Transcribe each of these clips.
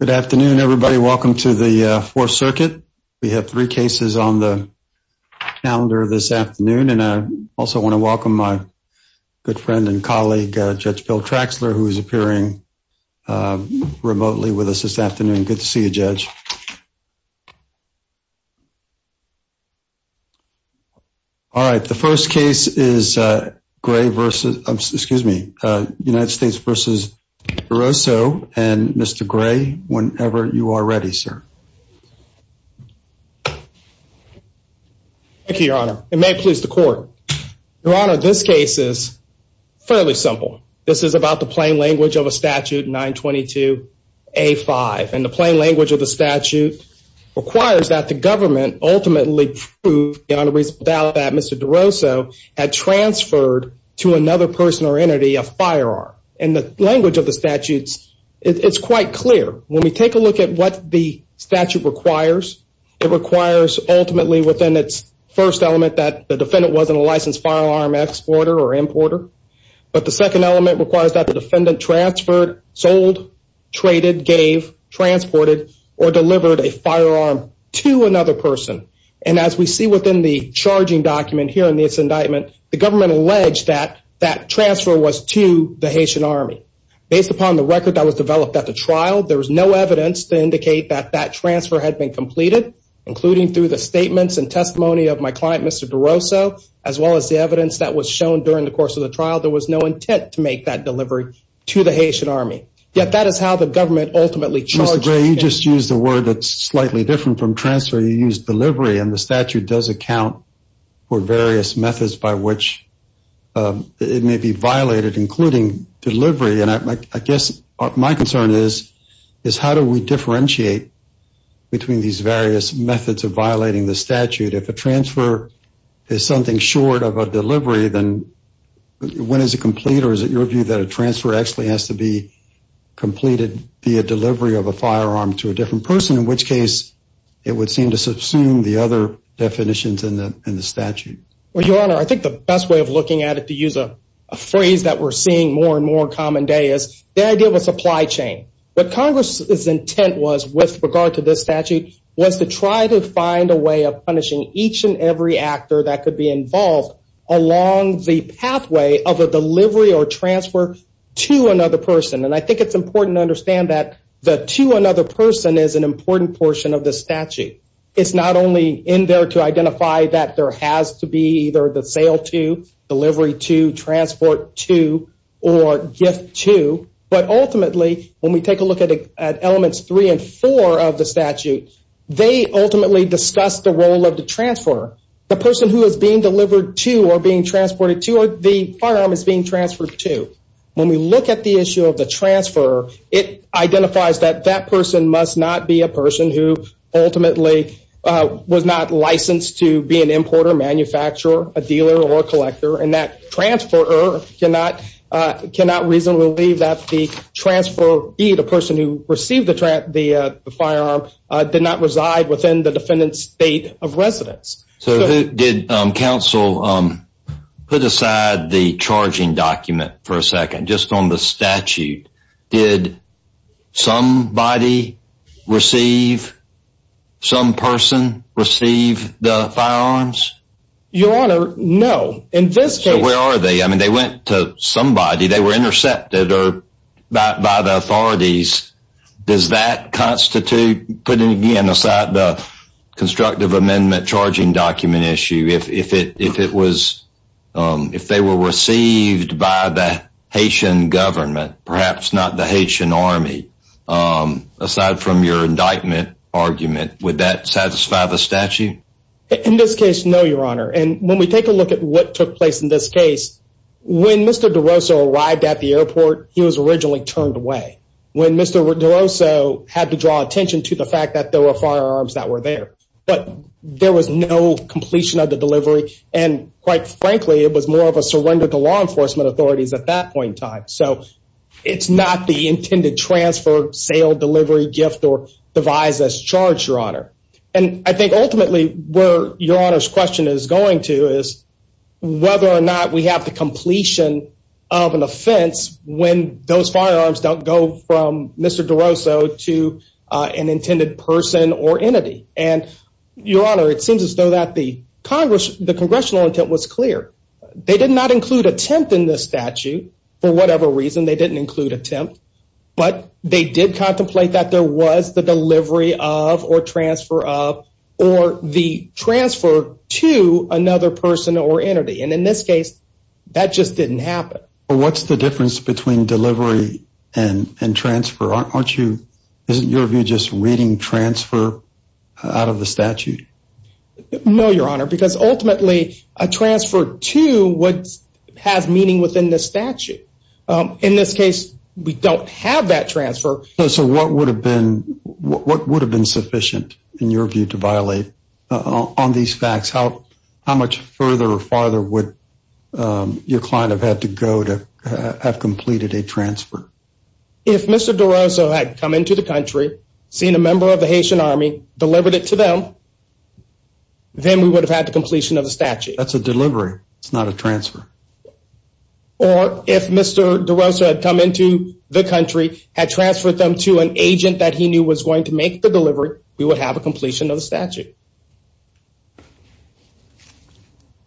Good afternoon, everybody. Welcome to the 4th Circuit. We have three cases on the calendar this afternoon, and I also want to welcome my good friend and colleague, Judge Bill Traxler, who is appearing remotely with us this afternoon. Good to see you, Judge. All right, the first case is United States v. Duroseau, and Mr. Gray, whenever you are ready, sir. Thank you, Your Honor. It may please the Court. Your Honor, this case is fairly simple. This is about the plain language of a statute 922A5, and the plain language of the statute requires that the government ultimately prove beyond a reasonable doubt that Mr. Duroseau had transferred to another person or entity a firearm. In the language of the statutes, it's quite clear. When we take a look at what the statute requires, it requires ultimately within its first element that the defendant wasn't a licensed firearm exporter or importer, but the second element requires that the defendant transferred, sold, traded, gave, transported, or delivered a firearm to another person. And as we see within the charging document here in this indictment, the government alleged that that transfer was to the Haitian Army. Based upon the record that was developed at the trial, there was no evidence to indicate that that transfer had been completed, including through the statements and testimony of my client, Mr. Duroseau, as well as the evidence that was shown during the course of the trial. There was no intent to make that delivery to the Haitian Army, yet that is how the government ultimately charged the defendant. Mr. Gray, you just used a word that's slightly different from transfer. You used delivery, and the statute does account for various methods by which it may be violated, including delivery, and I guess my concern is how do we differentiate between these various methods of violating the statute? If a transfer is something short of a delivery, then when is it complete, or is it your view that a transfer actually has to be completed via delivery of a firearm to a different person, in which case it would seem to subsume the other definitions in the statute? Well, Your Honor, I think the best way of looking at it, to use a phrase that we're seeing more and more on a common day, is the idea of a supply chain. What Congress's intent was, with regard to this statute, was to try to find a way of punishing each and every actor that could be involved along the pathway of a delivery or transfer to another person. I think it's important to understand that the to another person is an important portion of the statute. It's not only in there to identify that there has to be either the sale to, delivery to, transport to, or gift to, but ultimately, when we take a look at Elements 3 and 4 of the statute, they ultimately discuss the role of the transfer, the person who is being delivered to, or being transported to, or the firearm is being transferred to. When we look at the issue of the transfer, it identifies that that person must not be a person who ultimately was not licensed to be an importer, manufacturer, a dealer, or a collector, and that transfer cannot reasonably believe that the transferee, the person who received the firearm, did not reside within the defendant's state of residence. So did counsel put aside the charging document for a second, just on the statute? Did somebody receive, some person receive the firearms? Your Honor, no. So where are they? I mean, they went to somebody. They were intercepted by the authorities. Does that constitute, putting again, aside the constructive amendment charging document issue, if it was, if they were received by the Haitian government, perhaps not the Haitian army, aside from your indictment argument, would that satisfy the statute? In this case, no, Your Honor. And when we take a look at what took place in this case, when Mr. DeRosa arrived at the airport, he was originally turned away. When Mr. DeRosa had to draw attention to the fact that there were firearms that were there. But there was no completion of the delivery, and quite frankly, it was more of a surrender to law enforcement authorities at that point in time. So it's not the intended transfer, sale, delivery, gift, or device that's charged, Your Honor. And I think ultimately where Your Honor's question is going to is whether or not we have the completion of an offense when those firearms don't go from Mr. DeRosa to an intended person or entity. And Your Honor, it seems as though that the Congress, the congressional intent was clear. They did not include attempt in this statute, for whatever reason, they didn't include attempt. But they did contemplate that there was the delivery of, or transfer of, or the transfer to another person or entity. And in this case, that just didn't happen. Well, what's the difference between delivery and transfer? Aren't you, isn't your view just reading transfer out of the statute? No, Your Honor, because ultimately a transfer to what has meaning within the statute. In this case, we don't have that transfer. So what would have been sufficient, in your view, to violate on these facts? How much further or farther would your client have had to go to have completed a transfer? If Mr. DeRosa had come into the country, seen a member of the Haitian Army, delivered it to them, then we would have had the completion of the statute. That's a delivery. It's not a transfer. Or if Mr. DeRosa had come into the country, had transferred them to an agent that he knew was going to make the delivery, we would have a completion of the statute.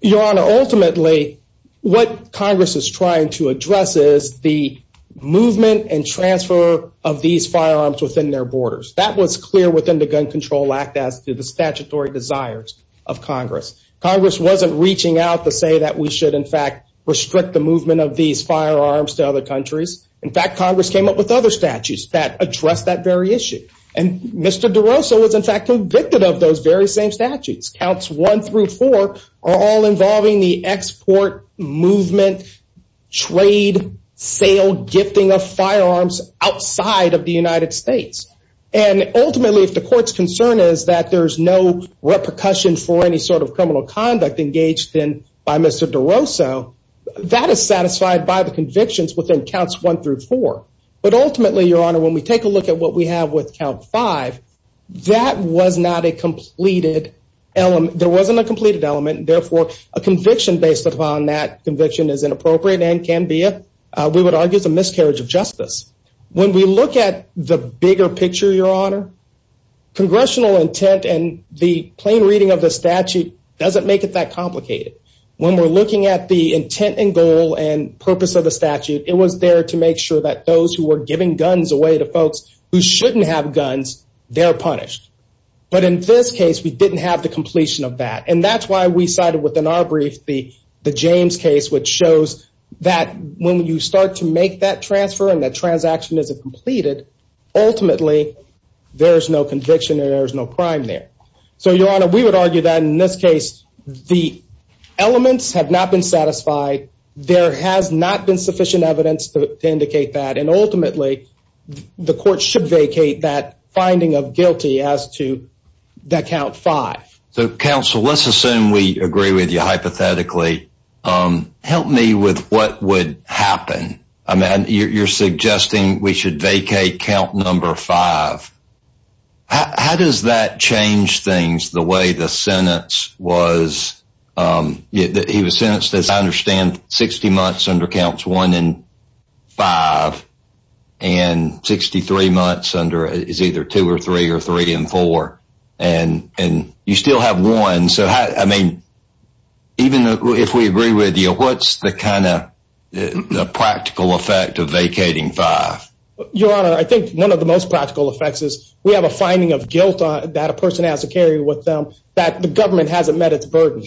Your Honor, ultimately, what Congress is trying to address is the movement and transfer of these firearms within their borders. That was clear within the Gun Control Act as to the statutory desires of Congress. Congress wasn't reaching out to say that we should, in fact, restrict the movement of these firearms to other countries. In fact, Congress came up with other statutes that address that very issue. And Mr. DeRosa was, in fact, convicted of those very same statutes. Counts 1 through 4 are all involving the export, movement, trade, sale, gifting of firearms outside of the United States. And ultimately, if the court's concern is that there's no repercussion for any sort of criminal conduct engaged in by Mr. DeRosa, that is satisfied by the convictions within Counts 1 through 4. But ultimately, Your Honor, when we take a look at what we have with Count 5, that was not a completed element. There wasn't a completed element. Therefore, a conviction based upon that conviction is inappropriate and can be, we would argue, a miscarriage of justice. When we look at the bigger picture, Your Honor, congressional intent and the plain reading of the statute doesn't make it that complicated. When we're looking at the intent and goal and purpose of the statute, it was there to make sure that those who were giving guns away to folks who shouldn't have guns, they're punished. But in this case, we didn't have the completion of that. And that's why we cited within our brief the James case, which shows that when you start to make that transfer and that transaction isn't completed, ultimately, there's no conviction and there's no crime there. So, Your Honor, we would argue that in this case, the elements have not been satisfied. There has not been sufficient evidence to indicate that. And ultimately, the court should vacate that finding of guilty as to that Count 5. So, Counsel, let's assume we agree with you hypothetically. Help me with what would happen. I mean, you're suggesting we should vacate Count 5. How does that change things the way the sentence was? He was sentenced, as I understand, 60 months under Counts 1 and 5 and 63 months under is either 2 or 3 or 3 and 4. And you still have one. So, I mean, even if we agree with you, what's the kind of practical effect of vacating 5? Your Honor, I think one of the most practical effects is we have a finding of guilt that a person has to carry with them that the government hasn't met its burden.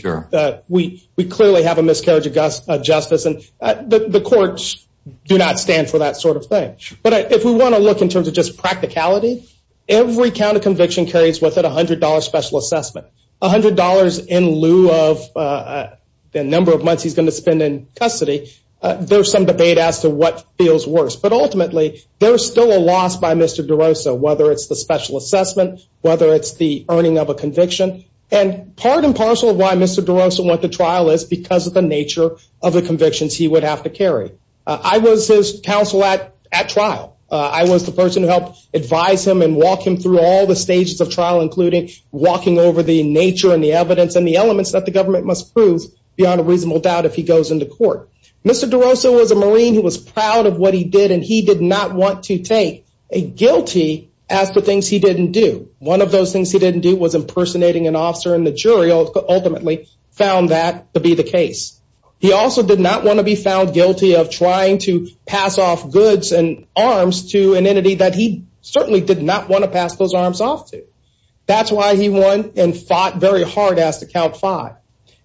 We clearly have a miscarriage of justice, and the courts do not stand for that sort of thing. But if we want to look in terms of just practicality, every count of conviction carries with it $100 special assessment. $100 in lieu of the number of months he's going to spend in custody, there's some debate as to what feels worse. But ultimately, there's still a loss by Mr. DeRosa, whether it's the special assessment, whether it's the earning of a conviction. And part and parcel of why Mr. DeRosa went to trial is because of the nature of the convictions he would have to carry. I was his counsel at trial. I was the person who helped advise him and walk him through all the stages of trial, including walking over the nature and the evidence and the elements that the government must prove beyond a reasonable doubt if he goes into court. Mr. DeRosa was a Marine who was proud of what he did, and he did not want to take a guilty as to things he didn't do. One of those things he didn't do was impersonating an officer, and the jury ultimately found that to be the case. He also did not want to be found guilty of trying to pass off goods and arms to an entity that he certainly did not want to pass those arms off to. That's why he won and fought very hard as to count five.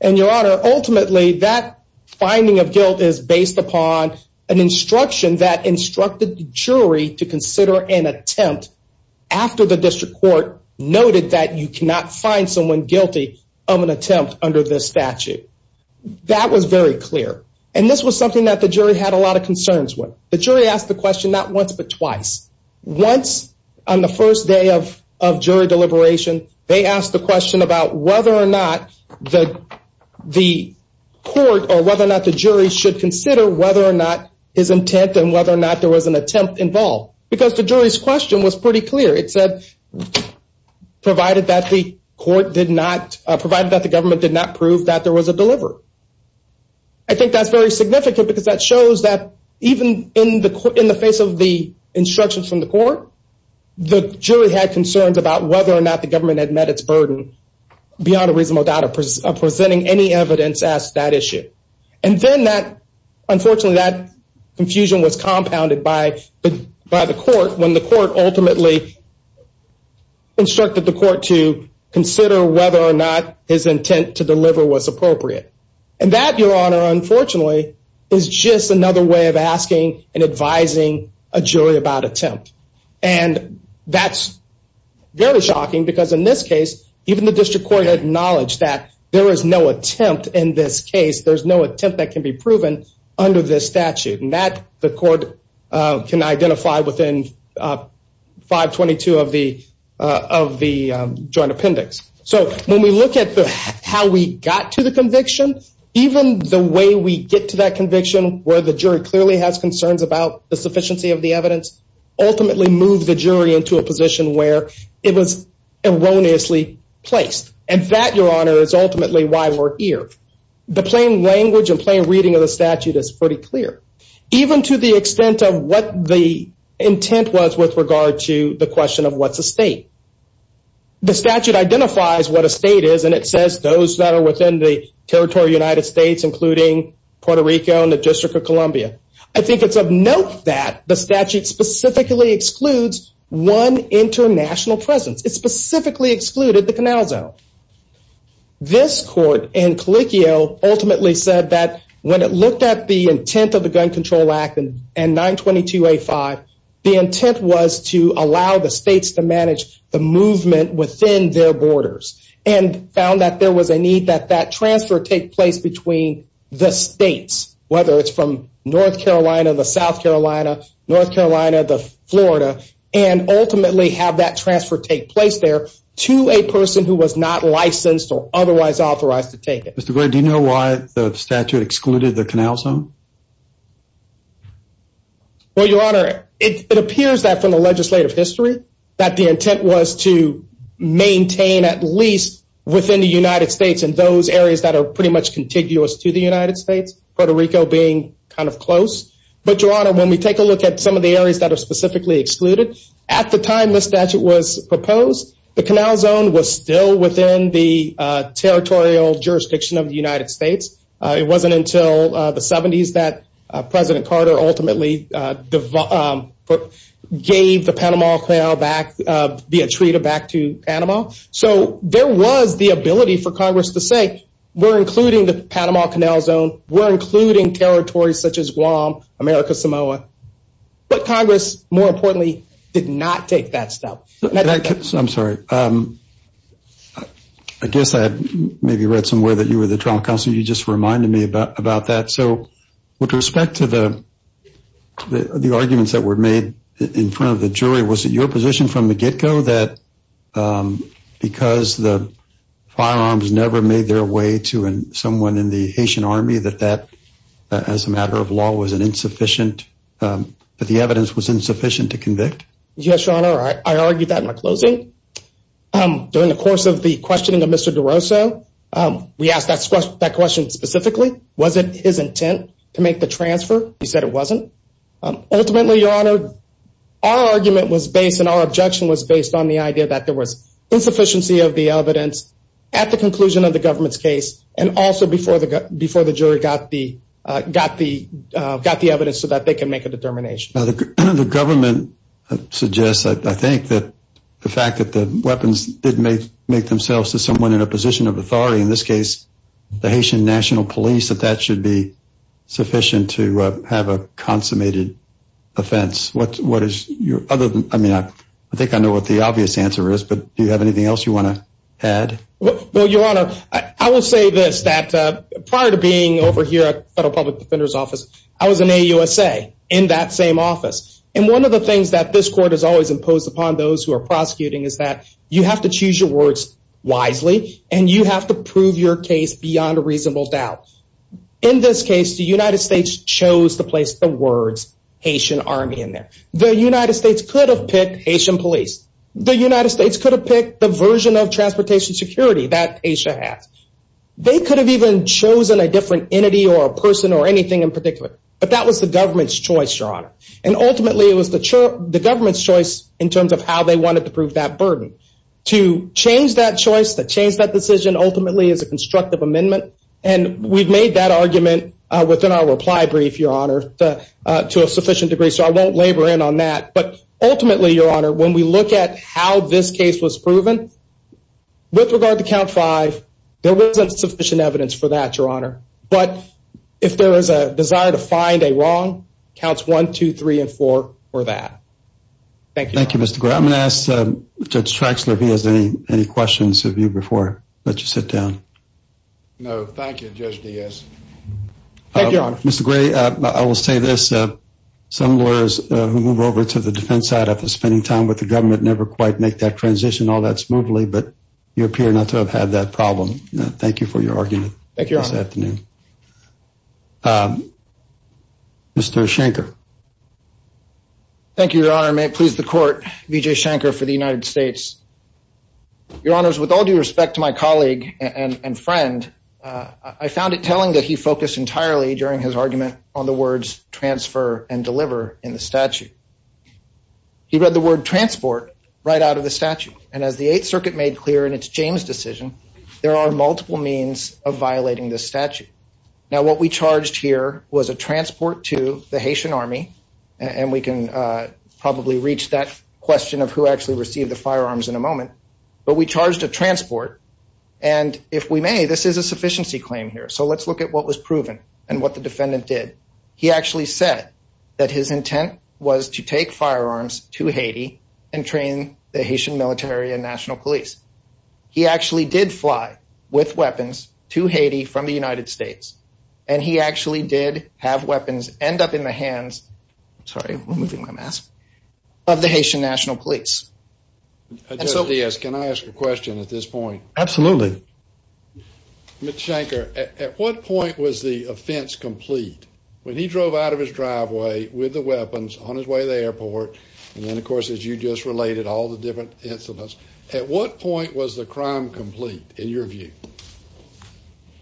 And, Your Honor, ultimately, that finding of guilt is based upon an instruction that instructed the jury to consider an attempt after the district court noted that you cannot find someone guilty of an attempt under this statute. That was very clear, and this was something that the jury had a lot of concerns with. The jury asked the question not once but twice. Once, on the first day of jury deliberation, they asked the question about whether or not the court or whether or not the jury should consider whether or not his intent and whether or not there was an attempt involved, because the jury's question was pretty clear. It said provided that the government did not prove that there was a deliverer. I think that's very significant because that shows that even in the face of the instructions from the court, the jury had concerns about whether or not the government had met its burden beyond a reasonable doubt of presenting any evidence as to that issue. And then that, unfortunately, that confusion was compounded by the court when the court ultimately instructed the court to consider whether or not his intent to deliver was appropriate. And that, Your Honor, unfortunately, is just another way of asking and advising a jury about attempt. And that's very shocking because in this case, even the district court acknowledged that there is no attempt in this case. There's no attempt that can be proven under this statute. And that the court can identify within 522 of the joint appendix. So when we look at how we got to the conviction, even the way we get to that conviction where the jury clearly has concerns about the sufficiency of the evidence, ultimately moved the jury into a position where it was erroneously placed. And that, Your Honor, is ultimately why we're here. The plain language and plain reading of the statute is pretty clear. Even to the extent of what the intent was with regard to the question of what's a state. The statute identifies what a state is and it says those that are within the territory of the United States, including Puerto Rico and the District of Columbia. I think it's of note that the statute specifically excludes one international presence. It specifically excluded the Canal Zone. This court in Caliccio ultimately said that when it looked at the intent of the Gun Control Act and 922A5, the intent was to allow the states to manage the movement within their borders. And found that there was a need that that transfer take place between the states. Whether it's from North Carolina, the South Carolina, North Carolina, the Florida. And ultimately have that transfer take place there to a person who was not licensed or otherwise authorized to take it. Mr. Gray, do you know why the statute excluded the Canal Zone? Well, Your Honor, it appears that from the legislative history that the intent was to maintain at least within the United States and those areas that are pretty much contiguous to the United States. Puerto Rico being kind of close. But, Your Honor, when we take a look at some of the areas that are specifically excluded, at the time the statute was proposed, the Canal Zone was still within the territorial jurisdiction of the United States. It wasn't until the 70s that President Carter ultimately gave the Panama Canal back, the Atreida back to Panama. So there was the ability for Congress to say, we're including the Panama Canal Zone, we're including territories such as Guam, America, Samoa. But Congress, more importantly, did not take that step. I'm sorry, I guess I maybe read somewhere that you were the trial counsel. You just reminded me about that. So with respect to the arguments that were made in front of the jury, was it your position from the get-go that because the firearms never made their way to someone in the Haitian army, that that, as a matter of law, was an insufficient, that the evidence was insufficient to convict? Yes, Your Honor, I argued that in my closing. During the course of the questioning of Mr. DeRoso, we asked that question specifically. Was it his intent to make the transfer? He said it wasn't. Ultimately, Your Honor, our argument was based and our objection was based on the idea that there was insufficiency of the evidence at the conclusion of the government's case and also before the jury got the evidence so that they could make a determination. The government suggests, I think, that the fact that the weapons did make themselves to someone in a position of authority, in this case, the Haitian National Police, that that should be sufficient to have a consummated offense. I think I know what the obvious answer is, but do you have anything else you want to add? Well, Your Honor, I will say this, that prior to being over here at the Federal Public Defender's Office, I was in AUSA in that same office. And one of the things that this court has always imposed upon those who are prosecuting is that you have to choose your words wisely and you have to prove your case beyond a reasonable doubt. In this case, the United States chose to place the words Haitian Army in there. The United States could have picked Haitian police. The United States could have picked the version of transportation security that Asia has. They could have even chosen a different entity or a person or anything in particular. But that was the government's choice, Your Honor. And ultimately, it was the government's choice in terms of how they wanted to prove that burden. To change that choice, to change that decision ultimately is a constructive amendment. And we've made that argument within our reply brief, Your Honor, to a sufficient degree. So I won't labor in on that. But ultimately, Your Honor, when we look at how this case was proven, with regard to Count 5, there wasn't sufficient evidence for that, Your Honor. But if there is a desire to find a wrong, Counts 1, 2, 3, and 4 were that. Thank you, Your Honor. Thank you, Mr. Gray. I'm going to ask Judge Traxler if he has any questions of you before I let you sit down. No, thank you, Judge Diaz. Thank you, Your Honor. Mr. Gray, I will say this. Some lawyers who move over to the defense side after spending time with the government never quite make that transition all that smoothly, but you appear not to have had that problem. Thank you for your argument this afternoon. Mr. Schenker. Thank you, Your Honor. May it please the Court, Vijay Schenker for the United States. Your Honors, with all due respect to my colleague and friend, I found it telling that he focused entirely during his argument on the words transfer and deliver in the statute. He read the word transport right out of the statute. And as the Eighth Circuit made clear in its James decision, there are multiple means of violating this statute. Now, what we charged here was a transport to the Haitian army, and we can probably reach that question of who actually received the firearms in a moment. But we charged a transport, and if we may, this is a sufficiency claim here. So let's look at what was proven and what the defendant did. He actually said that his intent was to take firearms to Haiti and train the Haitian military and national police. He actually did fly with weapons to Haiti from the United States, and he actually did have weapons end up in the hands of the Haitian national police. Judge Diaz, can I ask a question at this point? Absolutely. Mr. Schenker, at what point was the offense complete? When he drove out of his driveway with the weapons on his way to the airport, and then, of course, as you just related, all the different incidents, at what point was the crime complete in your view?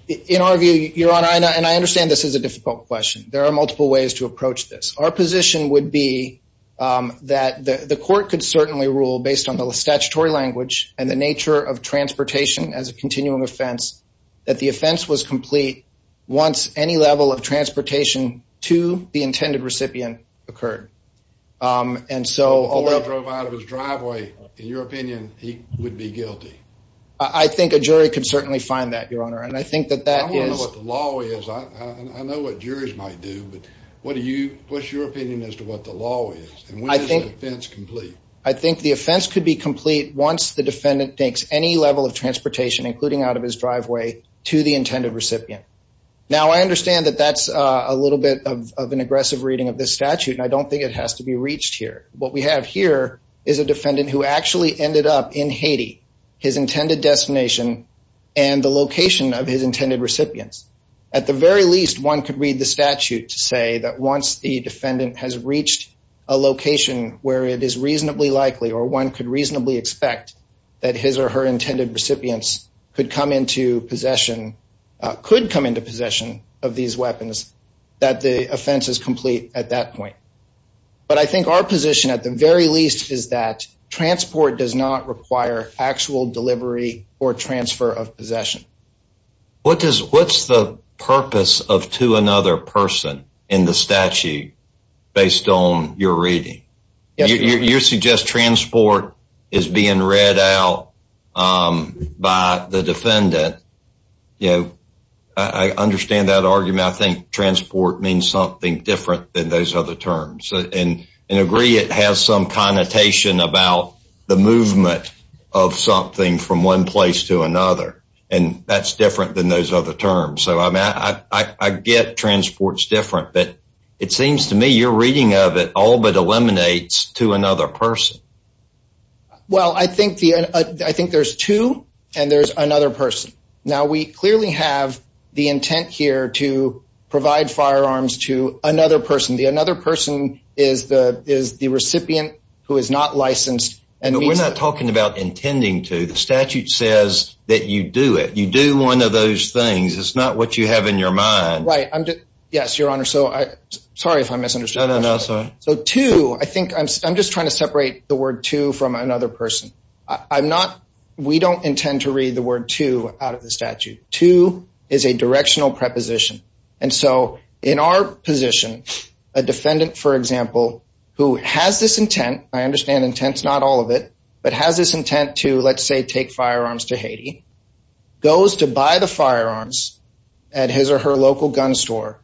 In our view, Your Honor, and I understand this is a difficult question. There are multiple ways to approach this. Our position would be that the court could certainly rule, based on the statutory language and the nature of transportation as a continuum offense, that the offense was complete once any level of transportation to the intended recipient occurred. Before he drove out of his driveway, in your opinion, he would be guilty? I think a jury could certainly find that, Your Honor. I want to know what the law is. I know what juries might do, but what's your opinion as to what the law is, and when is the offense complete? I think the offense could be complete once the defendant takes any level of transportation, including out of his driveway, to the intended recipient. Now, I understand that that's a little bit of an aggressive reading of this statute, and I don't think it has to be reached here. What we have here is a defendant who actually ended up in Haiti, his intended destination, and the location of his intended recipients. At the very least, one could read the statute to say that once the defendant has reached a location where it is reasonably likely or one could reasonably expect that his or her intended recipients could come into possession of these weapons, that the offense is complete at that point. But I think our position at the very least is that transport does not require actual delivery or transfer of possession. What's the purpose of to another person in the statute based on your reading? You suggest transport is being read out by the defendant. I understand that argument. I think transport means something different than those other terms. And I agree it has some connotation about the movement of something from one place to another, and that's different than those other terms. So I get transport's different, but it seems to me your reading of it all but eliminates to another person. Well, I think there's two, and there's another person. Now, we clearly have the intent here to provide firearms to another person. The another person is the recipient who is not licensed. We're not talking about intending to. The statute says that you do it. You do one of those things. It's not what you have in your mind. Yes, Your Honor. Sorry if I misunderstood. No, no, no. So to, I think I'm just trying to separate the word to from another person. I'm not, we don't intend to read the word to out of the statute. To is a directional preposition. And so in our position, a defendant, for example, who has this intent, I understand intent's not all of it, but has this intent to, let's say, take firearms to Haiti, goes to buy the firearms at his or her local gun store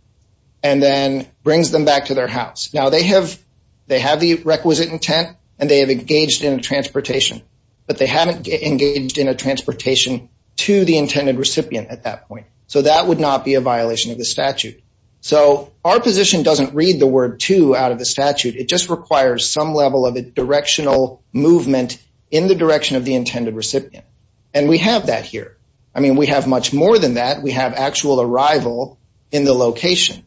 and then brings them back to their house. Now, they have the requisite intent and they have engaged in a transportation, but they haven't engaged in a transportation to the intended recipient at that point. So that would not be a violation of the statute. So our position doesn't read the word to out of the statute. It just requires some level of a directional movement in the direction of the intended recipient. And we have that here. I mean, we have much more than that. We have actual arrival in the location.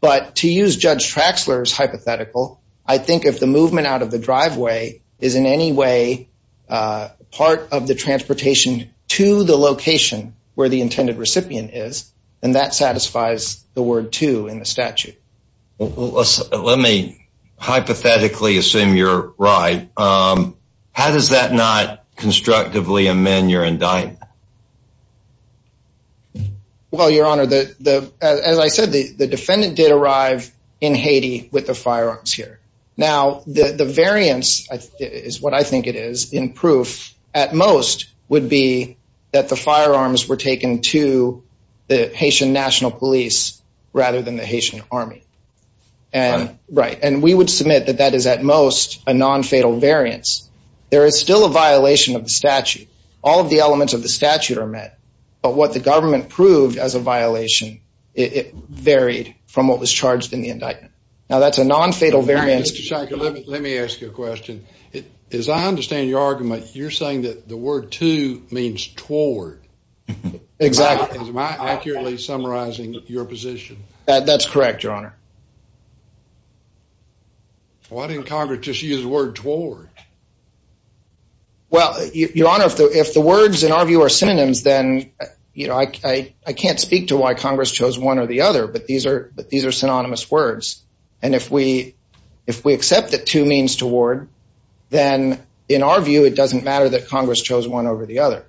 But to use Judge Traxler's hypothetical, I think if the movement out of the driveway is in any way part of the transportation to the location where the intended recipient is, then that satisfies the word to in the statute. Let me hypothetically assume you're right. How does that not constructively amend your indictment? Well, Your Honor, as I said, the defendant did arrive in Haiti with the firearms here. Now, the variance is what I think it is in proof at most would be that the firearms were taken to the Haitian National Police rather than the Haitian Army. Right. And we would submit that that is at most a nonfatal variance. There is still a violation of the statute. All of the elements of the statute are met. But what the government proved as a violation, it varied from what was charged in the indictment. Now, that's a nonfatal variance. Mr. Shanker, let me ask you a question. As I understand your argument, you're saying that the word to means toward. Exactly. Am I accurately summarizing your position? That's correct, Your Honor. Why didn't Congress just use the word toward? Well, Your Honor, if the words, in our view, are synonyms, then, you know, I can't speak to why Congress chose one or the other, but these are synonymous words. And if we accept that to means toward, then, in our view, it doesn't matter that Congress chose one over the other.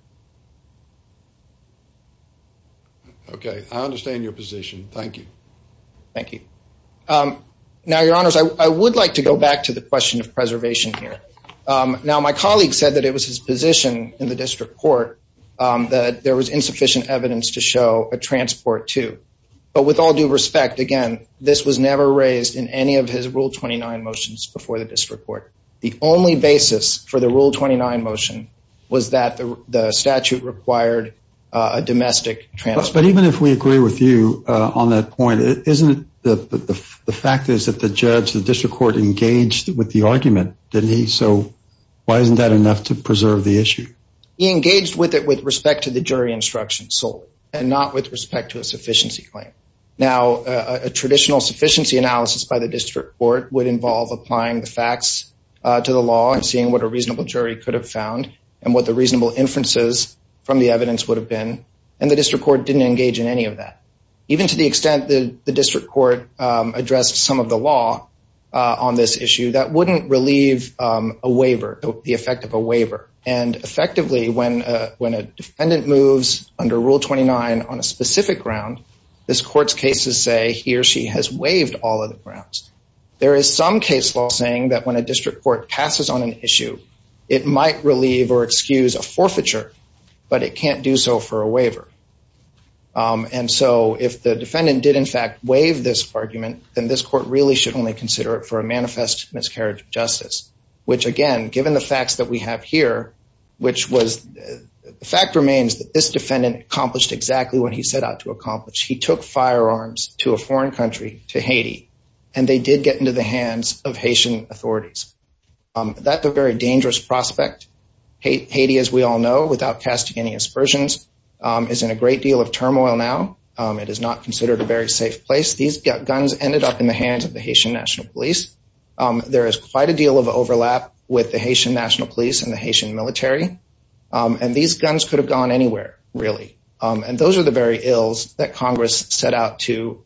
Okay. I understand your position. Thank you. Thank you. Now, Your Honors, I would like to go back to the question of preservation here. Now, my colleague said that it was his position in the district court that there was insufficient evidence to show a transport to. But with all due respect, again, this was never raised in any of his Rule 29 motions before the district court. The only basis for the Rule 29 motion was that the statute required a domestic transport. But even if we agree with you on that point, isn't it that the fact is that the judge, the district court, engaged with the argument, didn't he? So why isn't that enough to preserve the issue? He engaged with it with respect to the jury instruction solely and not with respect to a sufficiency claim. Now, a traditional sufficiency analysis by the district court would involve applying the facts to the law and seeing what a reasonable jury could have found and what the reasonable inferences from the evidence would have been. And the district court didn't engage in any of that. Even to the extent that the district court addressed some of the law on this issue, that wouldn't relieve a waiver, the effect of a waiver. And effectively, when a defendant moves under Rule 29 on a specific ground, this court's cases say he or she has waived all of the grounds. There is some case law saying that when a district court passes on an issue, it might relieve or excuse a forfeiture, but it can't do so for a waiver. And so if the defendant did in fact waive this argument, then this court really should only consider it for a manifest miscarriage of justice. Which again, given the facts that we have here, which was, the fact remains that this defendant accomplished exactly what he set out to accomplish. He took firearms to a foreign country, to Haiti, and they did get into the hands of Haitian authorities. That's a very dangerous prospect. Haiti, as we all know, without casting any aspersions, is in a great deal of turmoil now. It is not considered a very safe place. These guns ended up in the hands of the Haitian National Police. There is quite a deal of overlap with the Haitian National Police and the Haitian military. And these guns could have gone anywhere, really. And those are the very ills that Congress set out to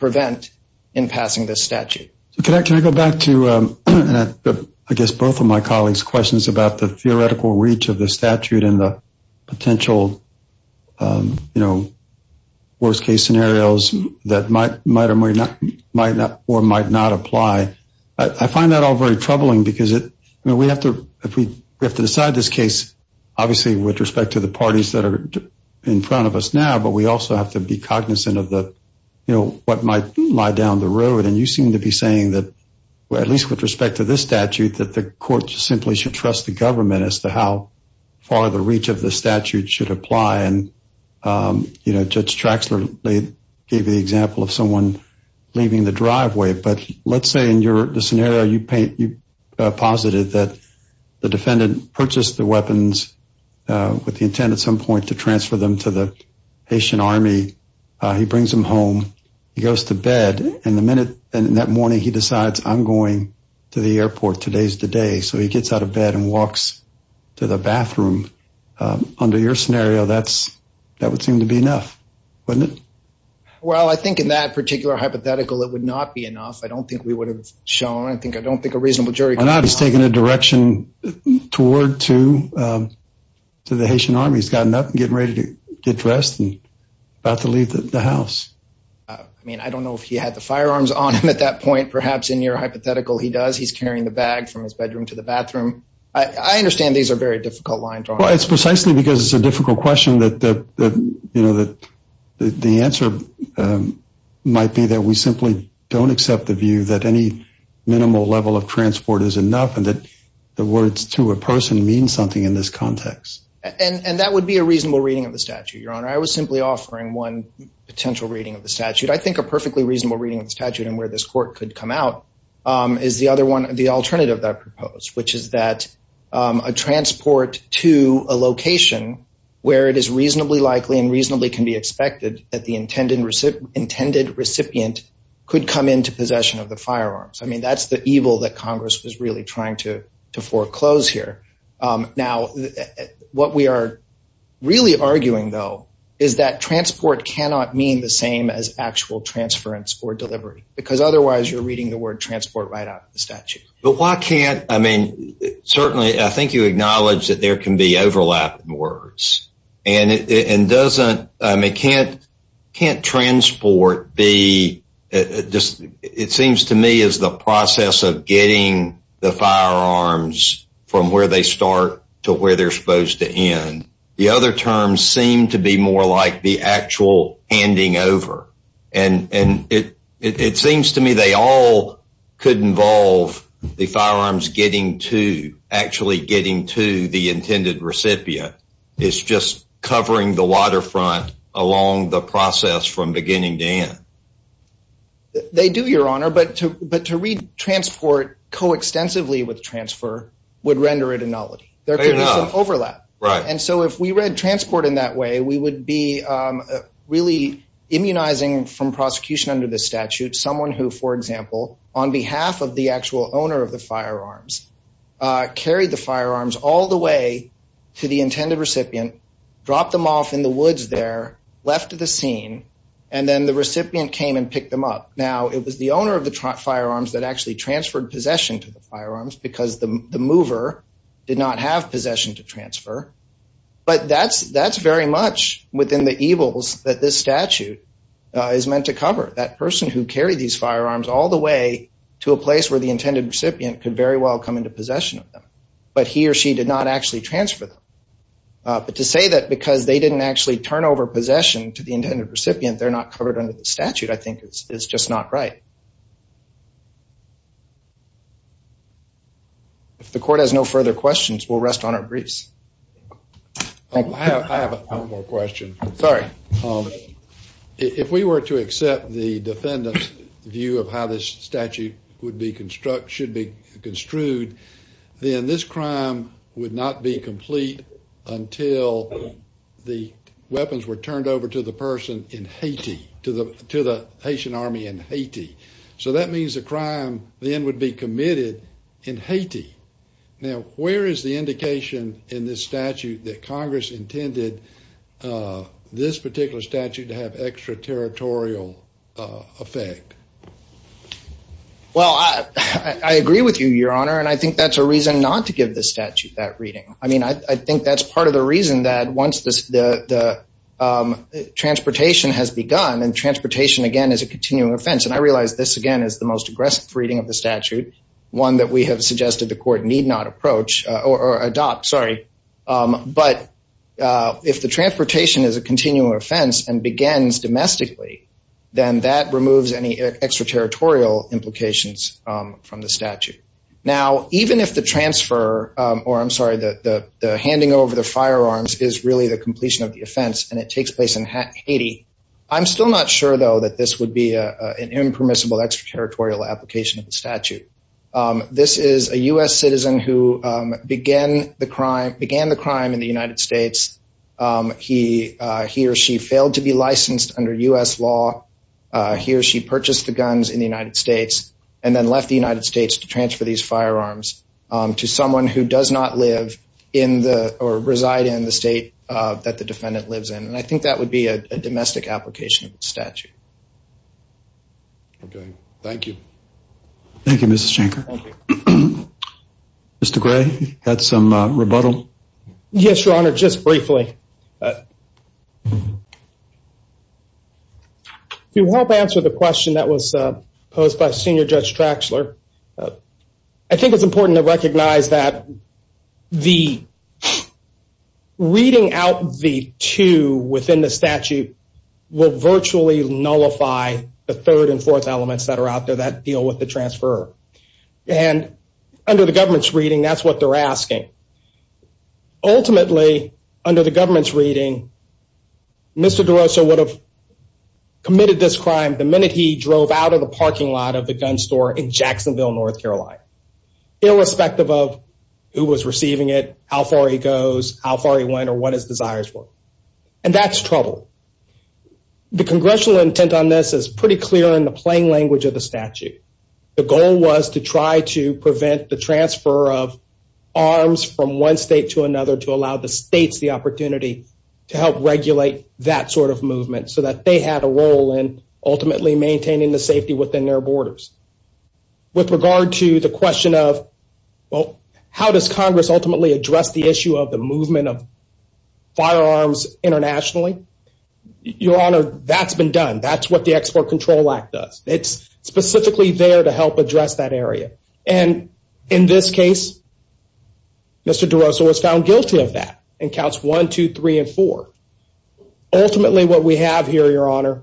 prevent in passing this statute. Can I go back to both of my colleagues' questions about the theoretical reach of the statute and the potential worst-case scenarios that might or might not apply? I find that all very troubling because we have to decide this case, obviously, with respect to the parties that are in front of us now. But we also have to be cognizant of what might lie down the road. And you seem to be saying that, at least with respect to this statute, that the court simply should trust the government as to how far the reach of the statute should apply. And Judge Traxler gave the example of someone leaving the driveway. But let's say in the scenario you posited that the defendant purchased the weapons with the intent at some point to transfer them to the Haitian army. He brings them home. He goes to bed. And in that morning, he decides, I'm going to the airport. Today's the day. So he gets out of bed and walks to the bathroom. Under your scenario, that would seem to be enough, wouldn't it? Well, I think in that particular hypothetical, it would not be enough. I don't think we would have shown. I don't think a reasonable jury could have known. He's taking a direction toward to the Haitian army. He's gotten up and getting ready to get dressed and about to leave the house. I mean, I don't know if he had the firearms on him at that point. Perhaps in your hypothetical, he does. He's carrying the bag from his bedroom to the bathroom. I understand these are very difficult lines. Well, it's precisely because it's a difficult question that the answer might be that we simply don't accept the view that any minimal level of transport is enough and that the words to a person mean something in this context. And that would be a reasonable reading of the statute, Your Honor. I was simply offering one potential reading of the statute. I think a perfectly reasonable reading of the statute and where this court could come out is the alternative that I proposed, which is that a transport to a location where it is reasonably likely and reasonably can be expected that the intended recipient could come into possession of the firearms. I mean, that's the evil that Congress was really trying to foreclose here. Now, what we are really arguing, though, is that transport cannot mean the same as actual transference or delivery because otherwise you're reading the word transport right out of the statute. But why can't – I mean, certainly I think you acknowledge that there can be overlap in words. And doesn't – I mean, can't transport be – it seems to me is the process of getting the firearms from where they start to where they're supposed to end. The other terms seem to be more like the actual handing over. And it seems to me they all could involve the firearms getting to – actually getting to the intended recipient. It's just covering the waterfront along the process from beginning to end. They do, Your Honor. But to read transport coextensively with transfer would render it a nullity. Right. And so if we read transport in that way, we would be really immunizing from prosecution under the statute someone who, for example, on behalf of the actual owner of the firearms, carried the firearms all the way to the intended recipient, dropped them off in the woods there, left the scene, and then the recipient came and picked them up. Now, it was the owner of the firearms that actually transferred possession to the firearms because the mover did not have possession to transfer. But that's very much within the evils that this statute is meant to cover. That person who carried these firearms all the way to a place where the intended recipient could very well come into possession of them. But he or she did not actually transfer them. But to say that because they didn't actually turn over possession to the intended recipient, they're not covered under the statute, I think, is just not right. If the court has no further questions, we'll rest on our briefs. I have one more question. Sorry. If we were to accept the defendant's view of how this statute should be construed, then this crime would not be complete until the weapons were turned over to the person in Haiti, to the Haitian army in Haiti. So that means the crime then would be committed in Haiti. Now, where is the indication in this statute that Congress intended this particular statute to have extraterritorial effect? Well, I agree with you, Your Honor. And I think that's a reason not to give this statute that reading. I mean, I think that's part of the reason that once the transportation has begun, and transportation, again, is a continuing offense. And I realize this, again, is the most aggressive reading of the statute, one that we have suggested the court need not approach or adopt. Sorry. But if the transportation is a continuing offense and begins domestically, then that removes any extraterritorial implications from the statute. Now, even if the transfer, or I'm sorry, the handing over of the firearms is really the completion of the offense and it takes place in Haiti, I'm still not sure, though, that this would be an impermissible extraterritorial application of the statute. This is a U.S. citizen who began the crime in the United States. He or she failed to be licensed under U.S. law. He or she purchased the guns in the United States and then left the United States to transfer these firearms to someone who does not live in the or reside in the state that the defendant lives in. And I think that would be a domestic application of the statute. Okay. Thank you. Thank you, Mrs. Shanker. Thank you. Mr. Gray, you had some rebuttal? Yes, Your Honor, just briefly. To help answer the question that was posed by Senior Judge Traxler, I think it's important to recognize that the reading out the two within the statute will virtually nullify the third and fourth elements that are out there that deal with the transfer. And under the government's reading, that's what they're asking. Ultimately, under the government's reading, Mr. DeRosa would have committed this crime the minute he drove out of the parking lot of the gun store in Jacksonville, North Carolina, irrespective of who was receiving it, how far he goes, how far he went, or what his desires were. And that's trouble. The congressional intent on this is pretty clear in the plain language of the statute. The goal was to try to prevent the transfer of arms from one state to another to allow the states the opportunity to help regulate that sort of movement so that they had a role in ultimately maintaining the safety within their borders. With regard to the question of, well, how does Congress ultimately address the issue of the movement of firearms internationally? Your Honor, that's been done. That's what the Export Control Act does. It's specifically there to help address that area. And in this case, Mr. DeRosa was found guilty of that in counts one, two, three, and four. Ultimately, what we have here, Your Honor,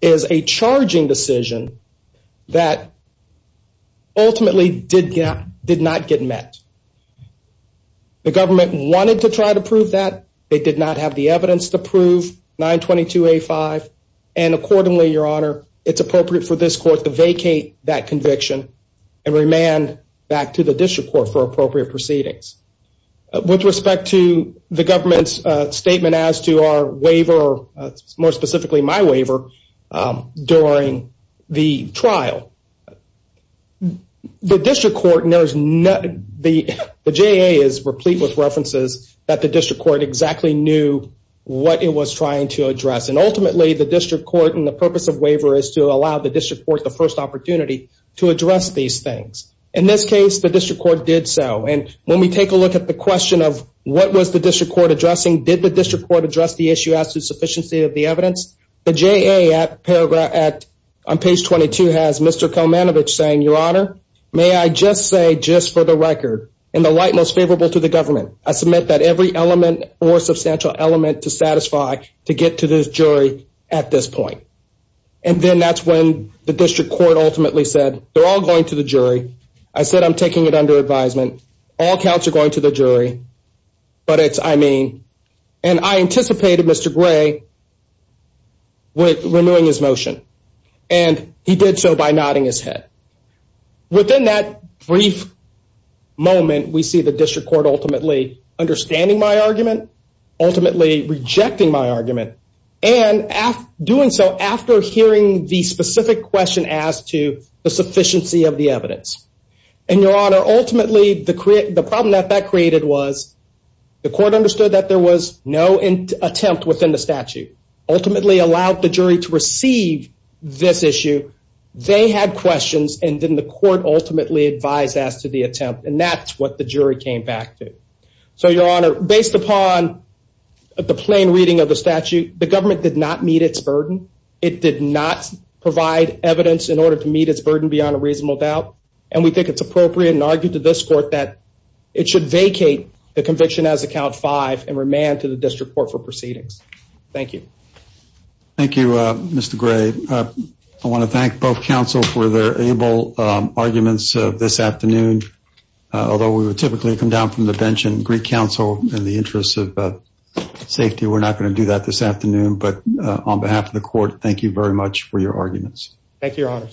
is a charging decision that ultimately did not get met. The government wanted to try to prove that. They did not have the evidence to prove 922A5. And accordingly, Your Honor, it's appropriate for this court to vacate that conviction and remand back to the district court for appropriate proceedings. With respect to the government's statement as to our waiver, more specifically my waiver, during the trial, the district court knows nothing. The JA is replete with references that the district court exactly knew what it was trying to address. And ultimately, the district court and the purpose of waiver is to allow the district court the first opportunity to address these things. In this case, the district court did so. And when we take a look at the question of what was the district court addressing, did the district court address the issue as to sufficiency of the evidence? The JA on page 22 has Mr. Komanovich saying, Your Honor, may I just say, just for the record, in the light most favorable to the government, I submit that every element or substantial element to satisfy to get to this jury at this point. And then that's when the district court ultimately said, they're all going to the jury. I said, I'm taking it under advisement. All counts are going to the jury. But it's, I mean, and I anticipated Mr. Gray with renewing his motion. And he did so by nodding his head. Within that brief moment, we see the district court ultimately understanding my argument, ultimately rejecting my argument, and doing so after hearing the specific question as to the sufficiency of the evidence. And, Your Honor, ultimately, the problem that that created was the court understood that there was no attempt within the statute, ultimately allowed the jury to receive this issue. They had questions, and then the court ultimately advised us to the attempt. And that's what the jury came back to. So, Your Honor, based upon the plain reading of the statute, the government did not meet its burden. It did not provide evidence in order to meet its burden beyond a reasonable doubt. And we think it's appropriate and argued to this court that it should vacate the conviction as account five and remand to the district court for proceedings. Thank you. Thank you, Mr. Gray. I want to thank both counsel for their able arguments this afternoon. Although we would typically come down from the bench and greet counsel in the interest of safety, we're not going to do that this afternoon. But on behalf of the court, thank you very much for your arguments. Thank you, Your Honor.